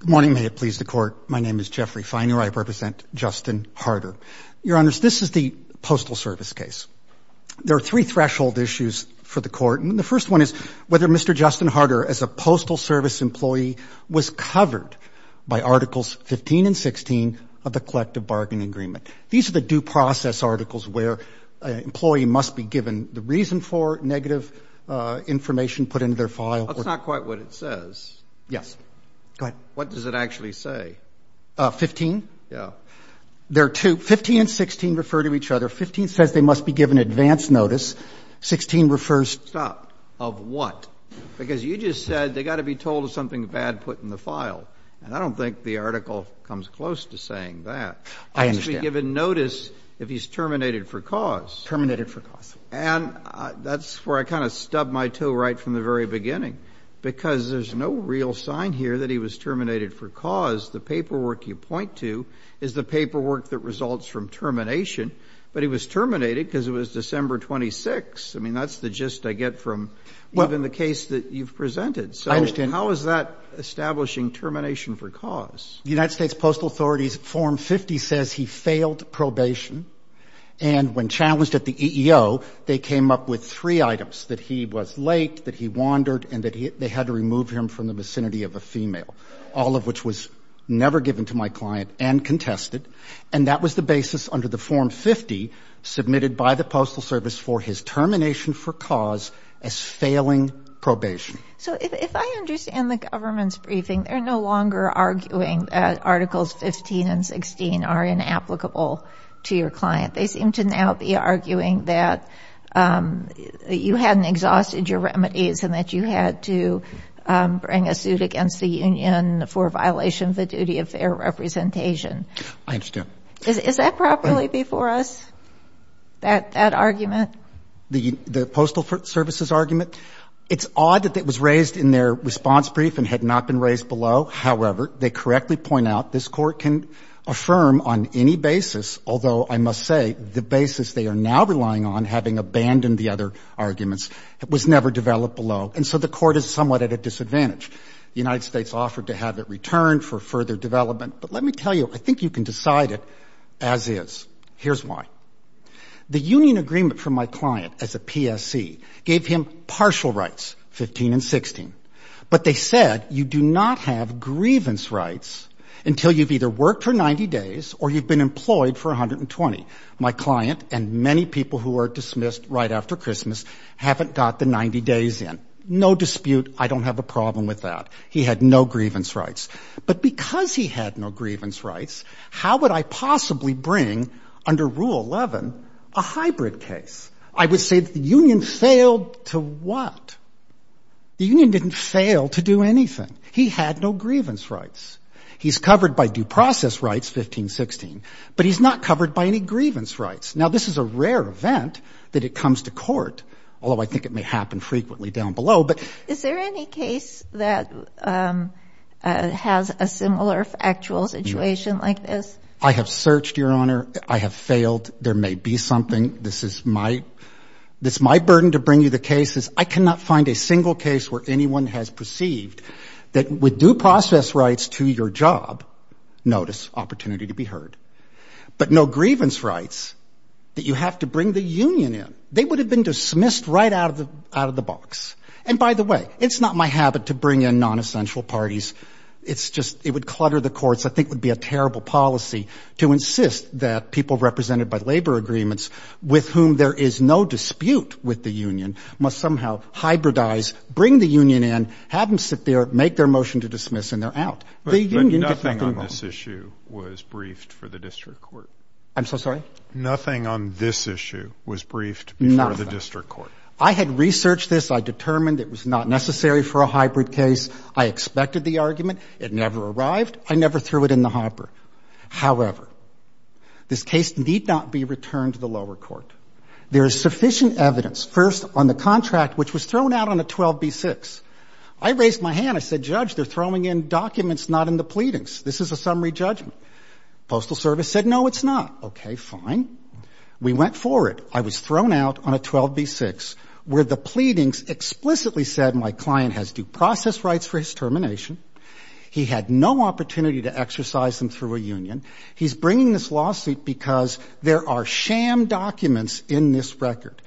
Good morning. May it please the Court, my name is Jeffrey Feiner. I represent Justin Harter. Your Honors, this is the Postal Service case. There are three threshold issues for the Court, and the first one is whether Mr. Justin Harter, as a Postal Service employee, was covered by Articles 15 and 16 of the Collective Bargaining Agreement. These are the due process articles where an employee must be given the reason for negative information put into their name, not what it says. What does it actually say? Mr. Harter 15? Mr. Feiner Yeah. Mr. Harter There are two. 15 and 16 refer to each other. 15 says they must be given advance notice. 16 refers to Mr. Feiner Stop. Of what? Because you just said they got to be told of something bad put in the file, and I don't think the article comes close to saying that. Mr. Harter I understand. Mr. Feiner He must be given notice if he's terminated for cause. Mr. Harter Terminated for cause. Mr. Feiner And that's where I kind of stubbed my toe right from the very beginning, because there's no real sign here that he was terminated for cause. The paperwork you point to is the paperwork that results from termination, but he was terminated because it was December 26. I mean, that's the gist I get from even the case that you've presented. Mr. Harter I understand. Mr. Feiner So how is that establishing termination for cause? Mr. Harter The United States Postal Authority's Form 50 says he failed probation, and when challenged at the EEO, they came up with three items, that he was late, that he wandered, and that they had to remove him from the vicinity of a female, all of which was never given to my client and contested, and that was the basis under the Form 50 submitted by the Postal Service for his termination for cause as failing probation. Ms. Norton So if I understand the government's briefing, they're no longer arguing that Articles 15 and 16 are inapplicable to your client. They seem to now be arguing that you hadn't exhausted your remedies and that you had to bring a suit against the union for violation of the duty of fair representation. Mr. Harter I understand. Ms. Norton Is that properly before us, that argument? Mr. Harter The Postal Service's argument? It's odd that it was raised in their response brief and had not been raised below. However, they the basis they are now relying on, having abandoned the other arguments, was never developed below, and so the Court is somewhat at a disadvantage. The United States offered to have it returned for further development, but let me tell you, I think you can decide it as is. Here's why. The union agreement from my client as a PSC gave him partial rights, 15 and 16, but they said you do not have grievance rights until you've either worked for 90 days or you've been employed for 120. My client and many people who are dismissed right after Christmas haven't got the 90 days in. No dispute, I don't have a problem with that. He had no grievance rights. But because he had no grievance rights, how would I possibly bring, under Rule 11, a hybrid case? I would say that the union failed to what? The union didn't fail to do anything. He had no grievance rights. He's covered by due process rights, 15, 16, but he's not covered by any grievance rights. Now, this is a rare event that it comes to court, although I think it may happen frequently down below, but... Is there any case that has a similar actual situation like this? I have searched, Your Honor. I have failed. There may be something. This is my burden to bring you the cases. I cannot find a single case where anyone has perceived that with due process rights to your job, notice, opportunity to be heard, but no grievance rights that you have to bring the union in. They would have been dismissed right out of the box. And by the way, it's not my habit to bring in non-essential parties. It's just, it would clutter the courts. I think it would be a terrible policy to insist that people represented by labor agreements, with whom there is no dispute with the union, must somehow hybridize, bring the union in, have them sit there, make their motion to dismiss, and they're out. The union did nothing wrong. But nothing on this issue was briefed for the district court. I'm so sorry? Nothing on this issue was briefed before the district court. I had researched this. I determined it was not necessary for a hybrid case. I expected the argument. It never arrived. I never threw it in the hopper. However, this case need not be returned to the lower court. There is sufficient evidence, first, on the contract, which was thrown out on a 12B6. I raised my hand. I said, Judge, they're throwing in documents not in the pleadings. This is a summary judgment. Postal Service said, no, it's not. Okay, fine. We went for it. I was thrown out on a 12B6, where the pleadings explicitly said my client has due process rights for his termination. He had no opportunity to exercise them through a union. He's bringing this lawsuit because there are sham documents in this record.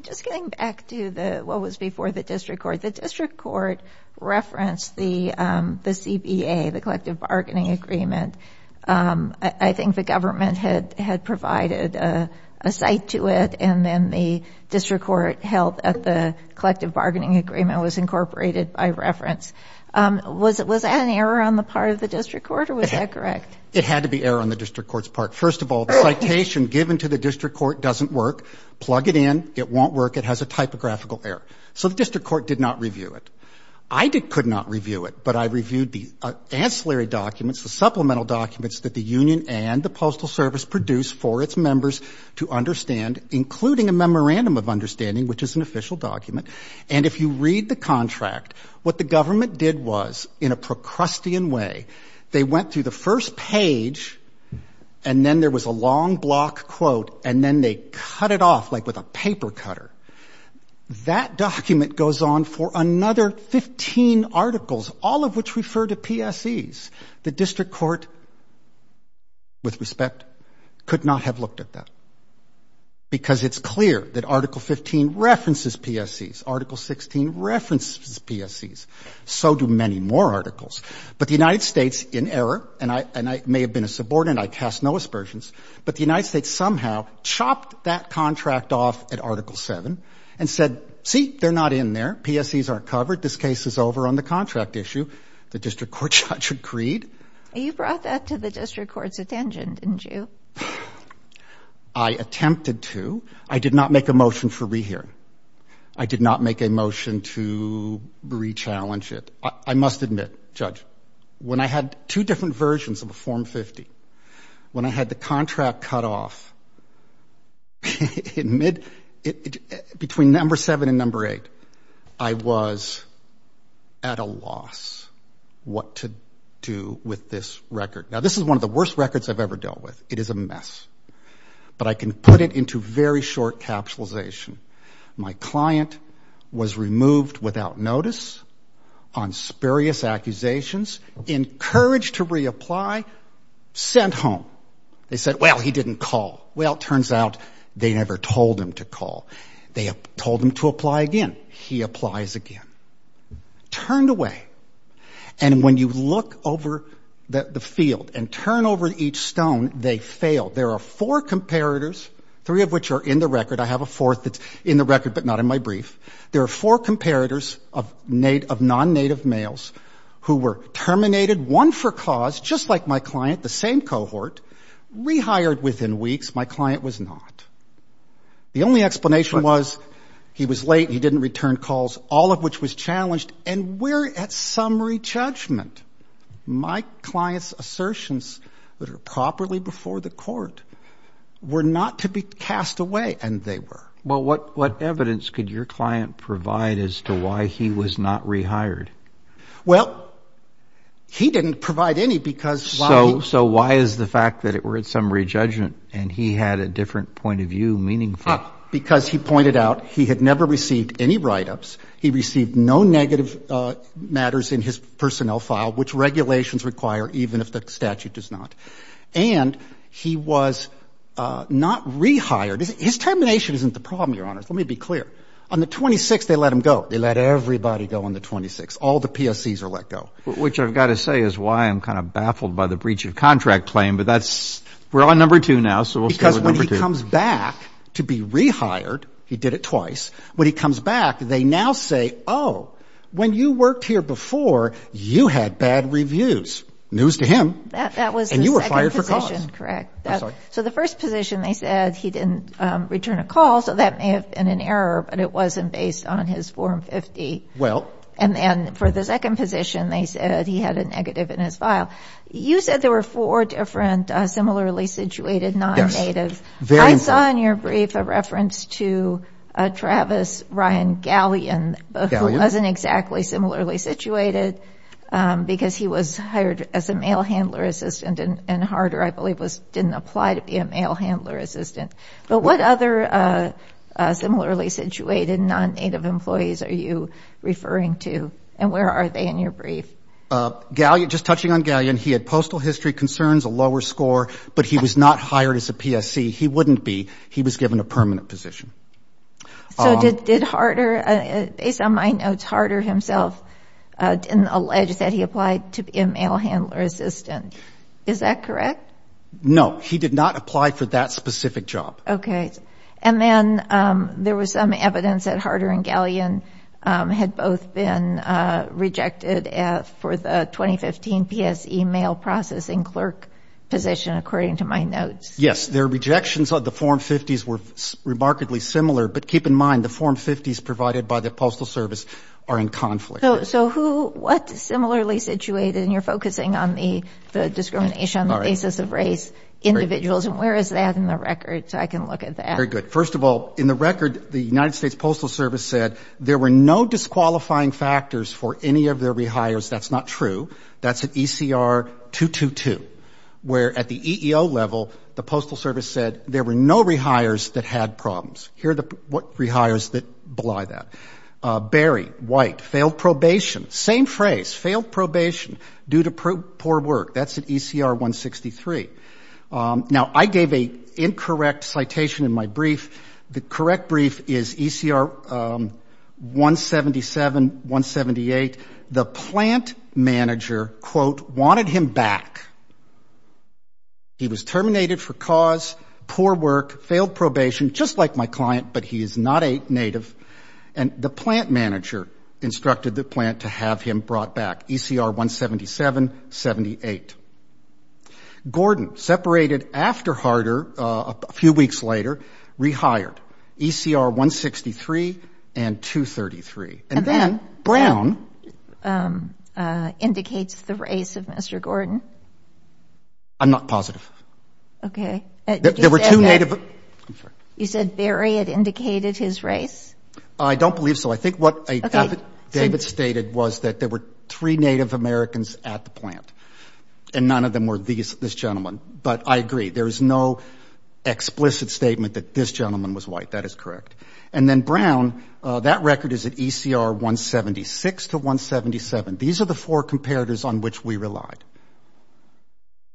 Just getting back to what was before the district court, the district court referenced the CBA, the collective bargaining agreement. I think the government had provided a site to it, and then the district court held that the collective bargaining agreement was incorporated by reference. Was that an error on the part of the district court, or was that correct? It had to be error on the district court's part. First of all, the citation given to the district court doesn't work. Plug it in. It won't work. It has a typographical error. So the district court did not review it. I could not review it, but I reviewed the ancillary documents, the supplemental documents that the union and the Postal Service produced for its members to understand, including a memorandum of understanding, which is an official document. And if you read the contract, what the government did was, in a Procrustean way, they went through the first page, and then there was a long block quote, and then they cut it off, like with a paper cutter. That document goes on for another 15 articles, all of which refer to PSEs. The district court, with respect, could not have looked at that, because it's clear that Article 15 references PSEs. Article 16 references PSEs. So do many more articles. But the United States, in error, and I may have been a subordinate, I cast no aspersions, but the United States somehow chopped that contract off at Article 7 and said, see, they're not in there. PSEs aren't covered. This case is over on the contract issue. The district court judge agreed. You brought that to the district court's attention, didn't you? I did. I attempted to. I did not make a motion for rehearing. I did not make a motion to re-challenge it. I must admit, Judge, when I had two different versions of a Form 50, when I had the contract cut off, in mid, between Number 7 and Number 8, I was at a loss what to do with this record. Now, this is one of the worst records I've ever dealt with. It is a mess. But I can put it into very short capitalization. My client was removed without notice on spurious accusations, encouraged to reapply, sent home. They said, well, he didn't call. Well, it turns out they never told him to call. They told him to apply again. He applies again. Turned away. And when you look over the field and turn over each stone, they fail. There are four comparators, three of which are in the record. I have a fourth that's in the record, but not in my brief. There are four comparators of non-Native males who were terminated, one for cause, just like my client, the same cohort, rehired within weeks. My client was not. The only explanation was he was late, he didn't return calls, all of which was challenged, and we're at summary judgment. My client's assertions that are properly before the court were not to be cast away, and they were. Well, what evidence could your client provide as to why he was not rehired? Well, he didn't provide any because... So why is the fact that we're at summary judgment and he had a different point of view meaningful? Because he pointed out he had never received any write-ups. He received no negative matters in his personnel file, which regulations require even if the statute does not. And he was not rehired. His termination isn't the problem, Your Honors. Let me be clear. On the 26th, they let him go. They let everybody go on the 26th. All the PSCs are let go. Which I've got to say is why I'm kind of baffled by the breach of contract claim, but that's... We're on number two now, so we'll start with number two. Because when he comes back to be rehired, he did it twice, when he comes back, they now say, oh, when you worked here before, you had bad reviews. News to him. And you were fired for cause. That was the second position, correct. So the first position, they said he didn't return a call, so that may have been an error, but it wasn't based on his form 50. And then for the second position, they said he had a negative in his file. You said there were four different similarly situated non-natives. Yes. Very important. I saw in your brief a reference to Travis Ryan Galleon, who wasn't exactly similarly situated because he was hired as a mail handler assistant and Harder, I believe, didn't apply to be a mail handler assistant. But what other similarly situated non-native employees are you referring to and where are they in your brief? Just touching on Galleon, he had postal history concerns, a lower score, but he was not hired as a PSC. He wouldn't be. He was given a permanent position. So did Harder, based on my notes, Harder himself didn't allege that he applied to be a mail handler assistant. Is that correct? No. He did not apply for that specific job. Okay. And then there was some evidence that Harder and Galleon had both been rejected for the 2015 PSE mail processing clerk position, according to my notes. Yes. Their rejections of the Form 50s were remarkably similar. But keep in mind, the Form 50s provided by the Postal Service are in conflict. So who, what similarly situated, and you're focusing on the discrimination on the basis of race, individuals, and where is that in the record so I can look at that? Very good. First of all, in the record, the United States Postal Service said there were no disqualifying factors for any of their rehires. That's not true. That's at ECR 222, where at the EEO level, the Postal Service said there were no rehires that had problems. Here are the rehires that belie that. Berry, White, failed probation. Same phrase, failed probation due to poor work. That's at ECR 163. Now I gave an incorrect citation in my brief. The correct brief is ECR 177, 178. The plant manager, quote, wanted him back. He was terminated for cause, poor work, failed probation, just like my client, but he is not a native. And the plant manager instructed the plant to have him brought back, ECR 177, 78. Gordon, separated after Harder, a few weeks later, rehired, ECR 163 and 233. And then Brown indicates the race of Mr. Gordon. I'm not positive. Okay. There were two native. You said Berry had indicated his race? I don't believe so. I think what David stated was that there were three Native Americans at the plant, and none of them were this gentleman. But I agree. There is no explicit statement that this gentleman was white. That is correct. And then Brown, that record is at ECR 176 to 177. These are the four comparators on which we relied,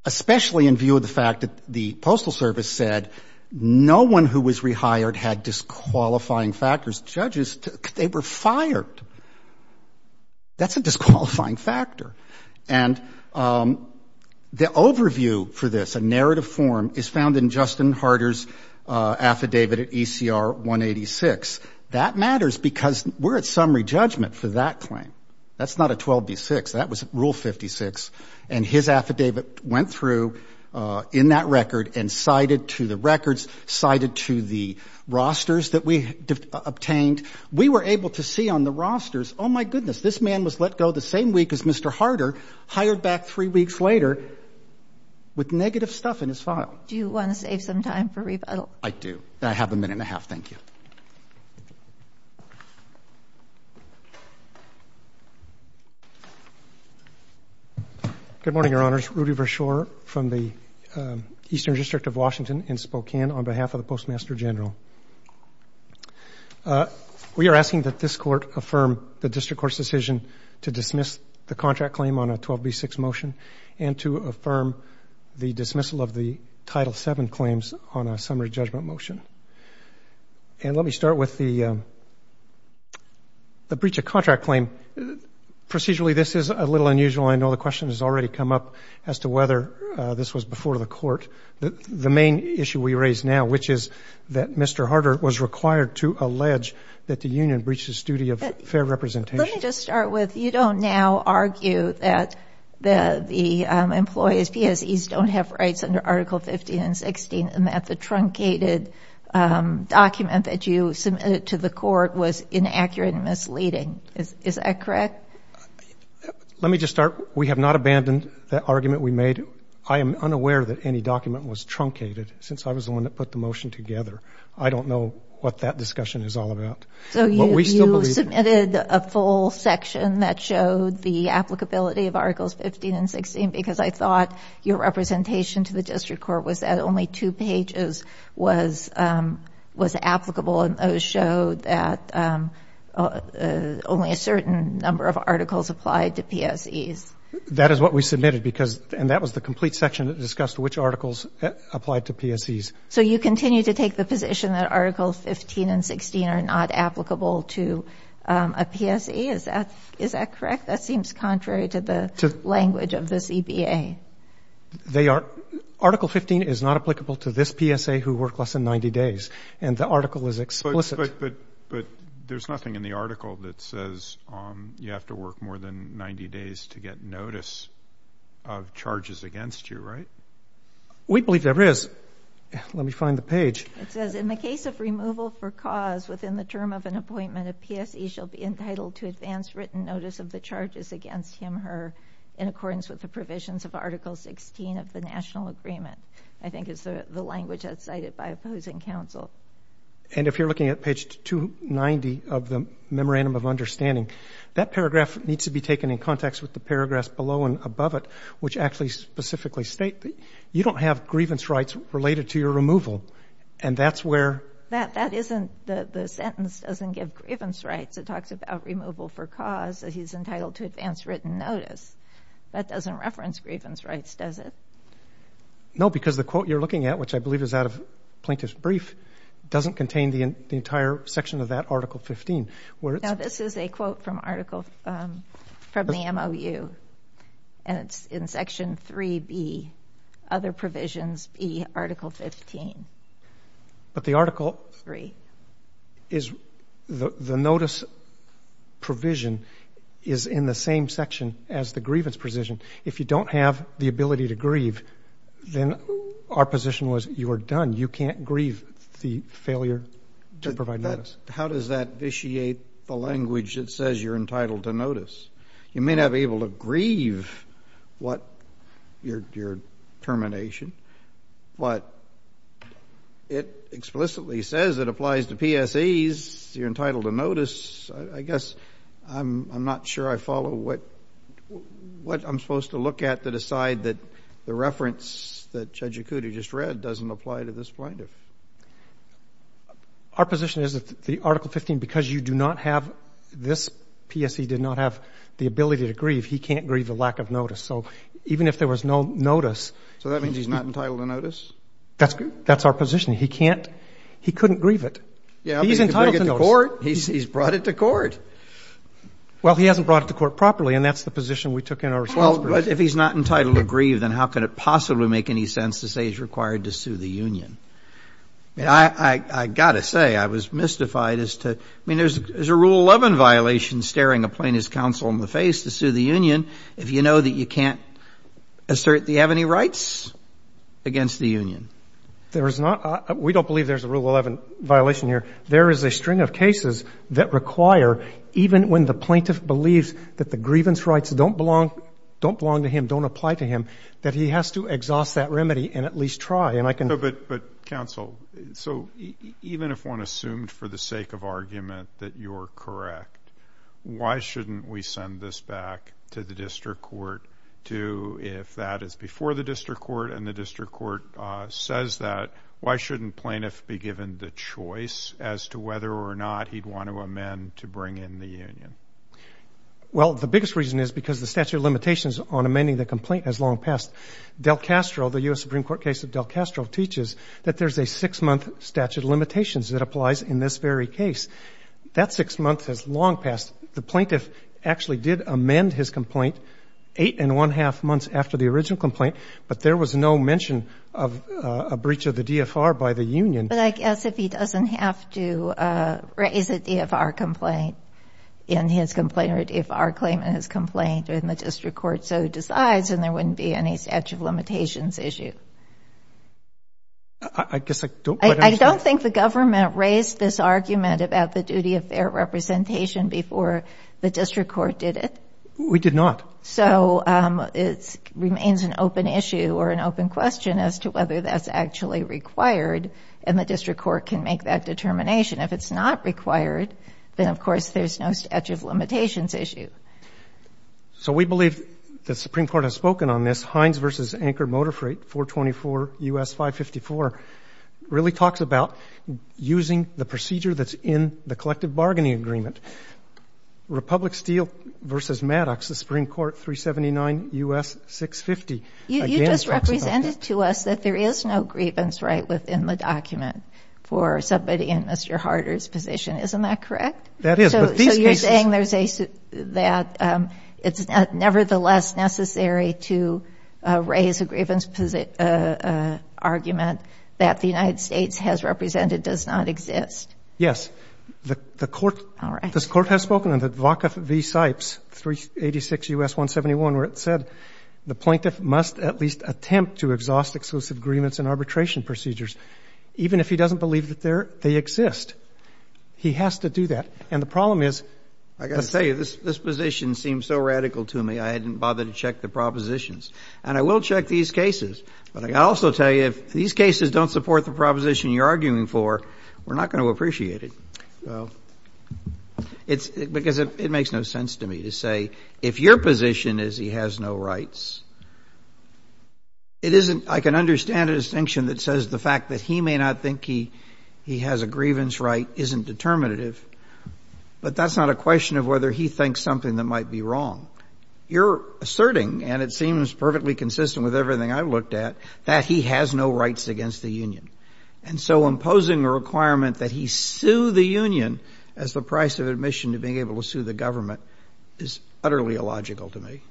especially in view of the fact that the Postal Service said no one who was rehired had disqualifying factors. Judges, they were fired. That's a disqualifying factor. And the overview for this, a narrative form, is found in Justin Harder's affidavit at ECR 186. That matters because we're at summary judgment for that claim. That's not a 12b6. That was Rule 56. And his affidavit went through in that record and cited to the records, cited to the rosters that we obtained. We were able to see on the rosters, oh, my goodness, this man was let go the same week as Mr. Harder, hired back three weeks later with negative stuff in his file. Do you want to save some time for rebuttal? I do. I have a minute and a half. Thank you. Good morning, Your Honors. Rudy Vershoor from the Eastern District of Washington in Spokane on behalf of the Postmaster General. We are asking that this Court affirm the District Court's decision to dismiss the contract claim on a 12b6 motion and to affirm the dismissal of the Title VII claims on a summary judgment motion. And let me start with the breach of contract claim. Procedurally, this is a little unusual. I know the question has already come up as to whether this was before the Court. The main issue we raise now, which is that Mr. Harder was required to allege that the union breached his duty of fair representation. Let me just start with, you don't now argue that the employees, PSEs, don't have rights under Article 15 and 16 and that the truncated document that you submitted to the Court was inaccurate and misleading. Is that correct? Let me just start. We have not abandoned that argument we made. I am unaware that any document was truncated since I was the one that put the motion together. I don't know what that discussion is all about. So you submitted a full section that showed the applicability of Articles 15 and 16 because I thought your representation to the District Court was that only two pages was applicable and those showed that only a certain number of articles applied to PSEs. That is what we submitted because, and that was the complete section that discussed which articles applied to PSEs. So you continue to take the position that Articles 15 and 16 are not applicable to a PSE? Is that correct? That seems contrary to the language of the CBA. Article 15 is not applicable to this PSE who worked less than 90 days and the article is explicit. But there is nothing in the article that says you have to work more than 90 days to get notice of charges against you, right? We believe there is. Let me find the page. It says, in the case of removal for cause within the term of an appointment, a PSE shall be entitled to advance written notice of the charges against him or her in accordance with the provisions of Article 16 of the National Agreement. I think it's the language that's cited by opposing counsel. And if you're looking at page 290 of the Memorandum of Understanding, that paragraph needs to be taken in context with the paragraphs below and above it, which actually specifically state that you don't have grievance rights related to your removal. And that's where – That isn't – the sentence doesn't give grievance rights. It talks about removal for cause that he's entitled to advance written notice. That doesn't reference grievance rights, does it? No, because the quote you're looking at, which I believe is out of Plaintiff's Brief, doesn't contain the entire section of that Article 15, where it's – provisions be Article 15. But the Article – Three. Is – the notice provision is in the same section as the grievance provision. If you don't have the ability to grieve, then our position was you are done. You can't grieve the failure to provide notice. How does that vitiate the language that says you're entitled to notice? You may not be able to grieve what – your termination, but it explicitly says it applies to PSEs. You're entitled to notice. I guess I'm not sure I follow what I'm supposed to look at to decide that the reference that Judge Ikuti just read doesn't apply to this Plaintiff. Our position is that the Article 15, because you do not have – this PSE did not have the ability to grieve, he can't grieve the lack of notice. So even if there was no notice – So that means he's not entitled to notice? That's our position. He can't – he couldn't grieve it. He's entitled to notice. Yeah, but he could bring it to court. He's brought it to court. Well, he hasn't brought it to court properly, and that's the position we took in our response brief. Well, but if he's not entitled to grieve, then how could it possibly make any sense to say he's required to sue the union? I got to say, I was mystified as to – I mean, there's a Rule 11 violation staring a Plaintiff's counsel in the face to sue the union if you know that you can't assert that you have any rights against the union. There is not – we don't believe there's a Rule 11 violation here. There is a string of cases that require, even when the Plaintiff believes that the grievance rights don't belong – don't belong to him, don't apply to him, that he has to exhaust that remedy and at least try, and I can – So, but counsel, so even if one assumed for the sake of argument that you're correct, why shouldn't we send this back to the District Court to – if that is before the District Court and the District Court says that, why shouldn't Plaintiff be given the choice as to whether or not he'd want to amend to bring in the union? Well, the biggest reason is because the statute of limitations on amending the complaint has teaches that there's a six-month statute of limitations that applies in this very case. That six months has long passed. The Plaintiff actually did amend his complaint eight and one-half months after the original complaint, but there was no mention of a breach of the DFR by the union. But I guess if he doesn't have to raise a DFR complaint in his complaint or a DFR claim in his complaint or in the District Court, so he decides and there wouldn't be any statute of limitations issue. I guess I don't – I don't think the government raised this argument about the duty of fair representation before the District Court did it. We did not. So, it remains an open issue or an open question as to whether that's actually required, and the District Court can make that determination. If it's not required, then of course there's no statute of limitations issue. So, we believe the Supreme Court has spoken on this. Hines v. Anchor Motor Freight, 424 U.S. 554, really talks about using the procedure that's in the collective bargaining agreement. Republic Steel v. Maddox, the Supreme Court, 379 U.S. 650, again talks about that. You just represented to us that there is no grievance right within the document for somebody in Mr. Harder's position. Isn't that correct? That is. So, you're saying that it's nevertheless necessary to raise a grievance argument that the United States has represented does not exist? Yes. All right. This Court has spoken on the Vaca v. Sipes, 386 U.S. 171, where it said the plaintiff must at least attempt to exhaust exclusive agreements and arbitration procedures, even if he doesn't believe that they exist. He has to do that. And the problem is the statute. I've got to tell you, this position seems so radical to me, I hadn't bothered to check the propositions. And I will check these cases. But I've got to also tell you, if these cases don't support the proposition you're arguing for, we're not going to appreciate it. Well. It's because it makes no sense to me to say, if your position is he has no rights, it isn't — I can understand a distinction that says the fact that he may not think he has a grievance right isn't determinative, but that's not a question of whether he thinks something that might be wrong. You're asserting, and it seems perfectly consistent with everything I've looked at, that he has no rights against the union. And so imposing a requirement that he sue the union as the price of admission to being able to sue the government is utterly illogical to me.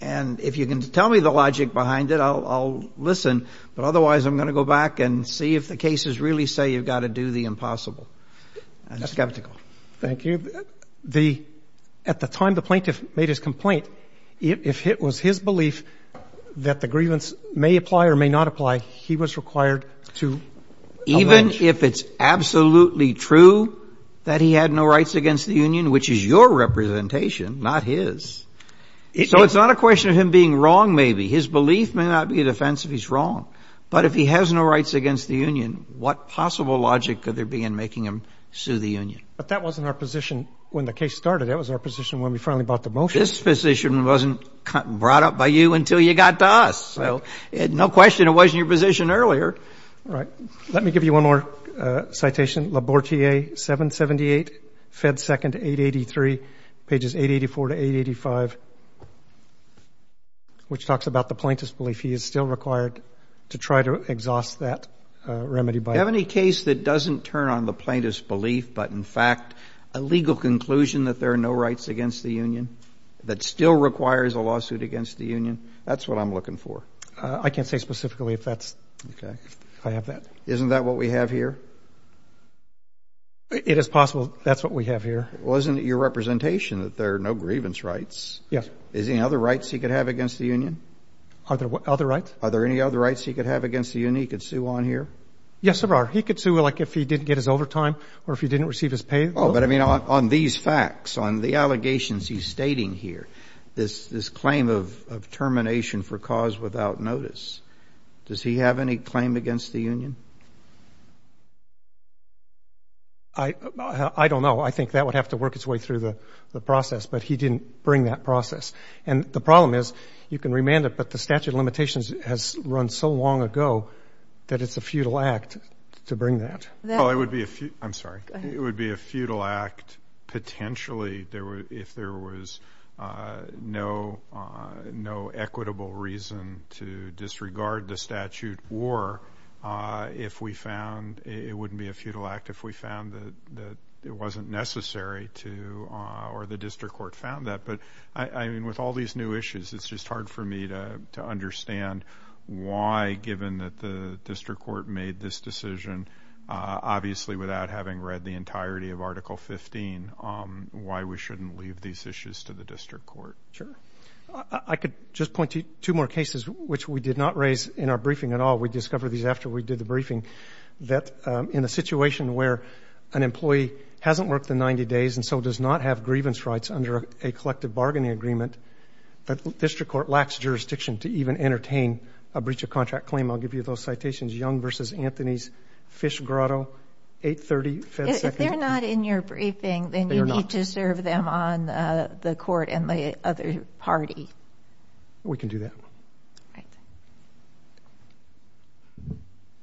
And if you can tell me the logic behind it, I'll listen. But otherwise, I'm going to go back and see if the cases really say you've got to do the I'm skeptical. Thank you. The — at the time the plaintiff made his complaint, if it was his belief that the grievance may apply or may not apply, he was required to allege — Even if it's absolutely true that he had no rights against the union, which is your representation, not his, so it's not a question of him being wrong, maybe. His belief may not be an offense if he's wrong, but if he has no rights against the union, what possible logic could there be in making him sue the union? But that wasn't our position when the case started. That was our position when we finally bought the motion. This position wasn't brought up by you until you got to us, so no question it wasn't your position earlier. All right. Let me give you one more citation, Labortier, 778, Fed 2nd, 883, pages 884 to 885, which talks about the plaintiff's belief he is still required to try to exhaust that remedy by — Do you have any case that doesn't turn on the plaintiff's belief but, in fact, a legal conclusion that there are no rights against the union, that still requires a lawsuit against the union? That's what I'm looking for. I can't say specifically if that's — Okay. — if I have that. Isn't that what we have here? It is possible that's what we have here. Wasn't it your representation that there are no grievance rights? Yes. Is there any other rights he could have against the union? Are there other rights? Are there any other rights he could have against the union he could sue on here? Yes, there are. He could sue, like, if he didn't get his overtime or if he didn't receive his pay. Oh, but, I mean, on these facts, on the allegations he's stating here, this claim of termination for cause without notice, does he have any claim against the union? I don't know. I think that would have to work its way through the process. But he didn't bring that process. And the problem is, you can remand it, but the statute of limitations has run so long ago that it's a futile act to bring that. Well, it would be a — I'm sorry. Go ahead. It would be a futile act, potentially, if there was no equitable reason to disregard the statute or if we found — it wouldn't be a futile act if we found that it wasn't necessary to — or the district court found that. But, I mean, with all these new issues, it's just hard for me to understand why, given that the district court made this decision, obviously without having read the entirety of Article 15, why we shouldn't leave these issues to the district court. Sure. I could just point to two more cases, which we did not raise in our briefing at all. We discovered these after we did the briefing, that in a situation where an employee hasn't worked in 90 days and so does not have grievance rights under a collective bargaining agreement, the district court lacks jurisdiction to even entertain a breach of contract claim. I'll give you those citations. Young v. Anthony's, Fish Grotto, 830 Fed Second. If they're not in your briefing, then you need to serve them on the court and the other party. We can do that.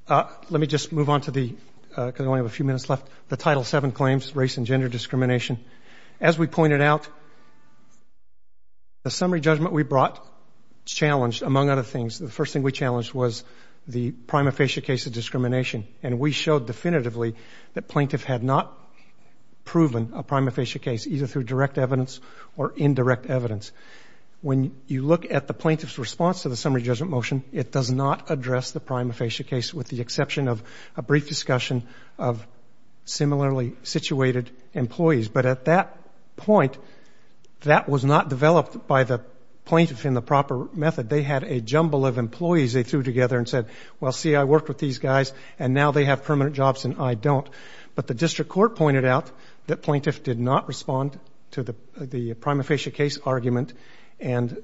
All right. Let me just move on to the — because I only have a few minutes left. The Title VII claims, race and gender discrimination. As we pointed out, the summary judgment we brought challenged, among other things, the first thing we challenged was the prima facie case of discrimination. And we showed definitively that plaintiff had not proven a prima facie case, either through direct evidence or indirect evidence. When you look at the plaintiff's response to the summary judgment motion, it does not similarly situated employees. But at that point, that was not developed by the plaintiff in the proper method. They had a jumble of employees they threw together and said, well, see, I worked with these guys and now they have permanent jobs and I don't. But the district court pointed out that plaintiff did not respond to the prima facie case argument. And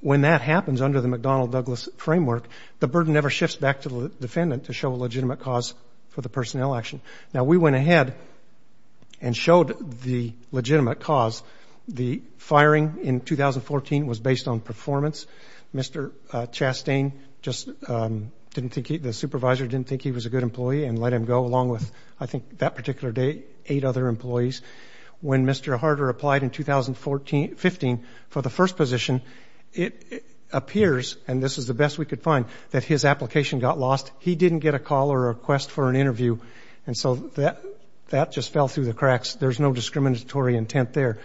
when that happens under the McDonnell Douglas framework, the burden never shifts back to the defendant to show a legitimate cause for the personnel action. Now, we went ahead and showed the legitimate cause. The firing in 2014 was based on performance. Mr. Chastain just didn't think — the supervisor didn't think he was a good employee and let him go along with, I think, that particular day, eight other employees. When Mr. Harder applied in 2015 for the first position, it appears — and this is the best we could find — that his application got lost. He didn't get a call or a request for an interview. And so that just fell through the cracks. There's no discriminatory intent there.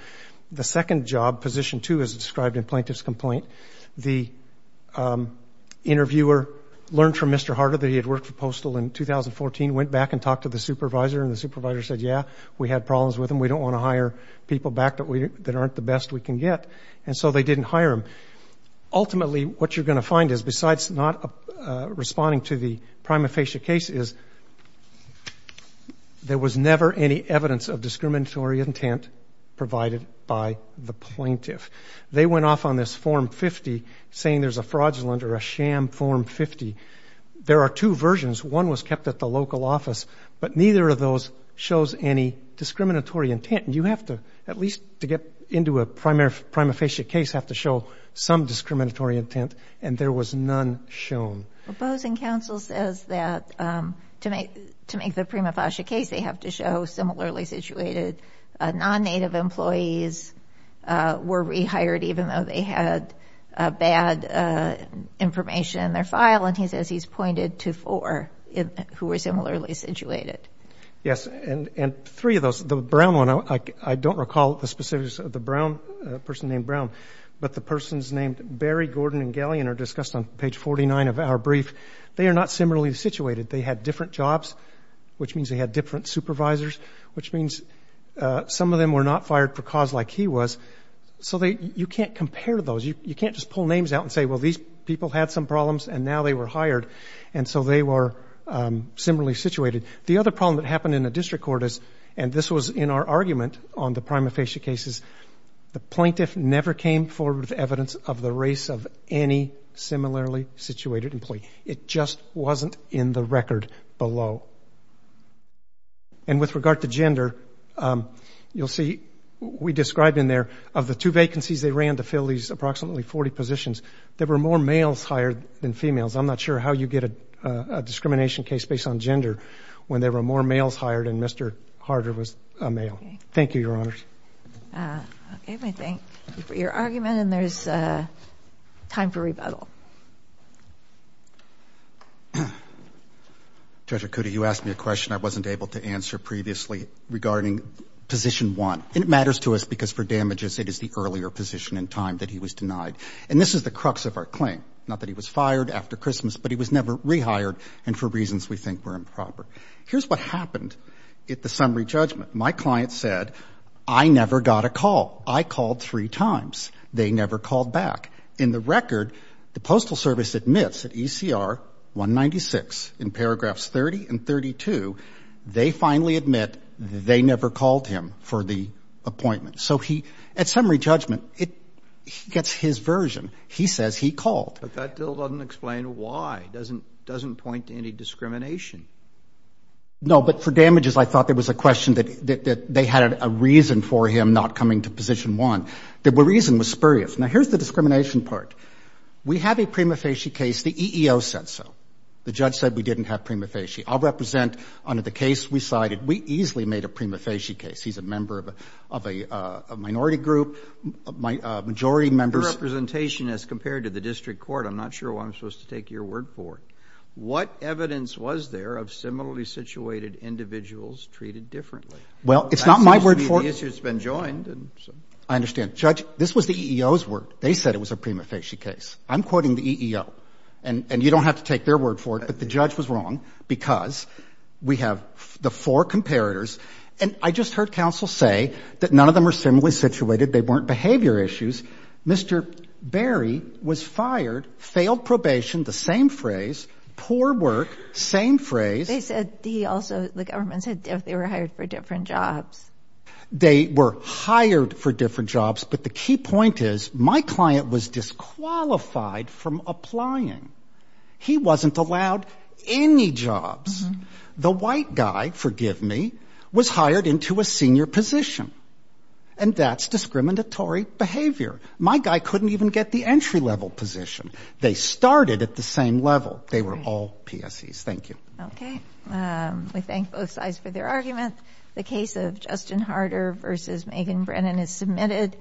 The second job, position two, as described in Plaintiff's Complaint, the interviewer learned from Mr. Harder that he had worked for Postal in 2014, went back and talked to the supervisor, and the supervisor said, yeah, we had problems with him. We don't want to hire people back that aren't the best we can get. And so they didn't hire him. Ultimately, what you're going to find is, besides not responding to the prima facie case, is there was never any evidence of discriminatory intent provided by the plaintiff. They went off on this Form 50, saying there's a fraudulent or a sham Form 50. There are two versions. One was kept at the local office, but neither of those shows any discriminatory intent. You have to, at least to get into a prima facie case, have to show some discriminatory intent. And there was none shown. Well, Bowes and Counsel says that to make the prima facie case, they have to show similarly situated non-Native employees were rehired, even though they had bad information in their file. And he says he's pointed to four who were similarly situated. Yes. And three of those, the brown one, I don't recall the specifics of the person named Brown, but the persons named Barry, Gordon, and Galean are discussed on page 49 of our brief. They are not similarly situated. They had different jobs, which means they had different supervisors, which means some of them were not fired for cause like he was. So you can't compare those. You can't just pull names out and say, well, these people had some problems, and now they were hired. And so they were similarly situated. The other problem that happened in the district court is, and this was in our argument on the prima facie cases, the plaintiff never came forward with evidence of the race of any similarly situated employee. It just wasn't in the record below. And with regard to gender, you'll see, we described in there, of the two vacancies they ran to fill these approximately 40 positions, there were more males hired than females. I'm not sure how you get a discrimination case based on gender when there were more males hired and Mr. Harder was a male. Thank you, Your Honors. Okay. I thank you for your argument, and there's time for rebuttal. Judge Acuda, you asked me a question I wasn't able to answer previously regarding position one. It matters to us because for damages, it is the earlier position in time that he was denied. And this is the crux of our claim. Not that he was fired after Christmas, but he was never rehired and for reasons we think were improper. Here's what happened at the summary judgment. My client said, I never got a call. I called three times. They never called back. In the record, the Postal Service admits at ECR 196 in paragraphs 30 and 32, they finally admit they never called him for the appointment. So he, at summary judgment, he gets his version. He says he called. But that still doesn't explain why. It doesn't point to any discrimination. No, but for damages, I thought there was a question that they had a reason for him not coming to position one. The reason was spurious. Now, here's the discrimination part. We have a prima facie case. The EEO said so. The judge said we didn't have prima facie. I'll represent under the case we cited. We easily made a prima facie case. He's a member of a minority group. A majority member. Your representation, as compared to the district court, I'm not sure why I'm supposed to take your word for it. What evidence was there of similarly situated individuals treated differently? Well, it's not my word for it. That seems to be the issue that's been joined. I understand. Judge, this was the EEO's word. They said it was a prima facie case. I'm quoting the EEO. And you don't have to take their word for it. But the judge was wrong because we have the four comparators. And I just heard counsel say that none of them were similarly situated. They weren't behavior issues. Mr. Berry was fired, failed probation, the same phrase, poor work, same phrase. They said he also, the government said they were hired for different jobs. They were hired for different jobs. But the key point is my client was disqualified from applying. He wasn't allowed any jobs. The white guy, forgive me, was hired into a senior position. And that's discriminatory behavior. My guy couldn't even get the entry level position. They started at the same level. They were all PSEs. Thank you. Okay. We thank both sides for their argument. The case of Justin Harder versus Megan Brennan is submitted.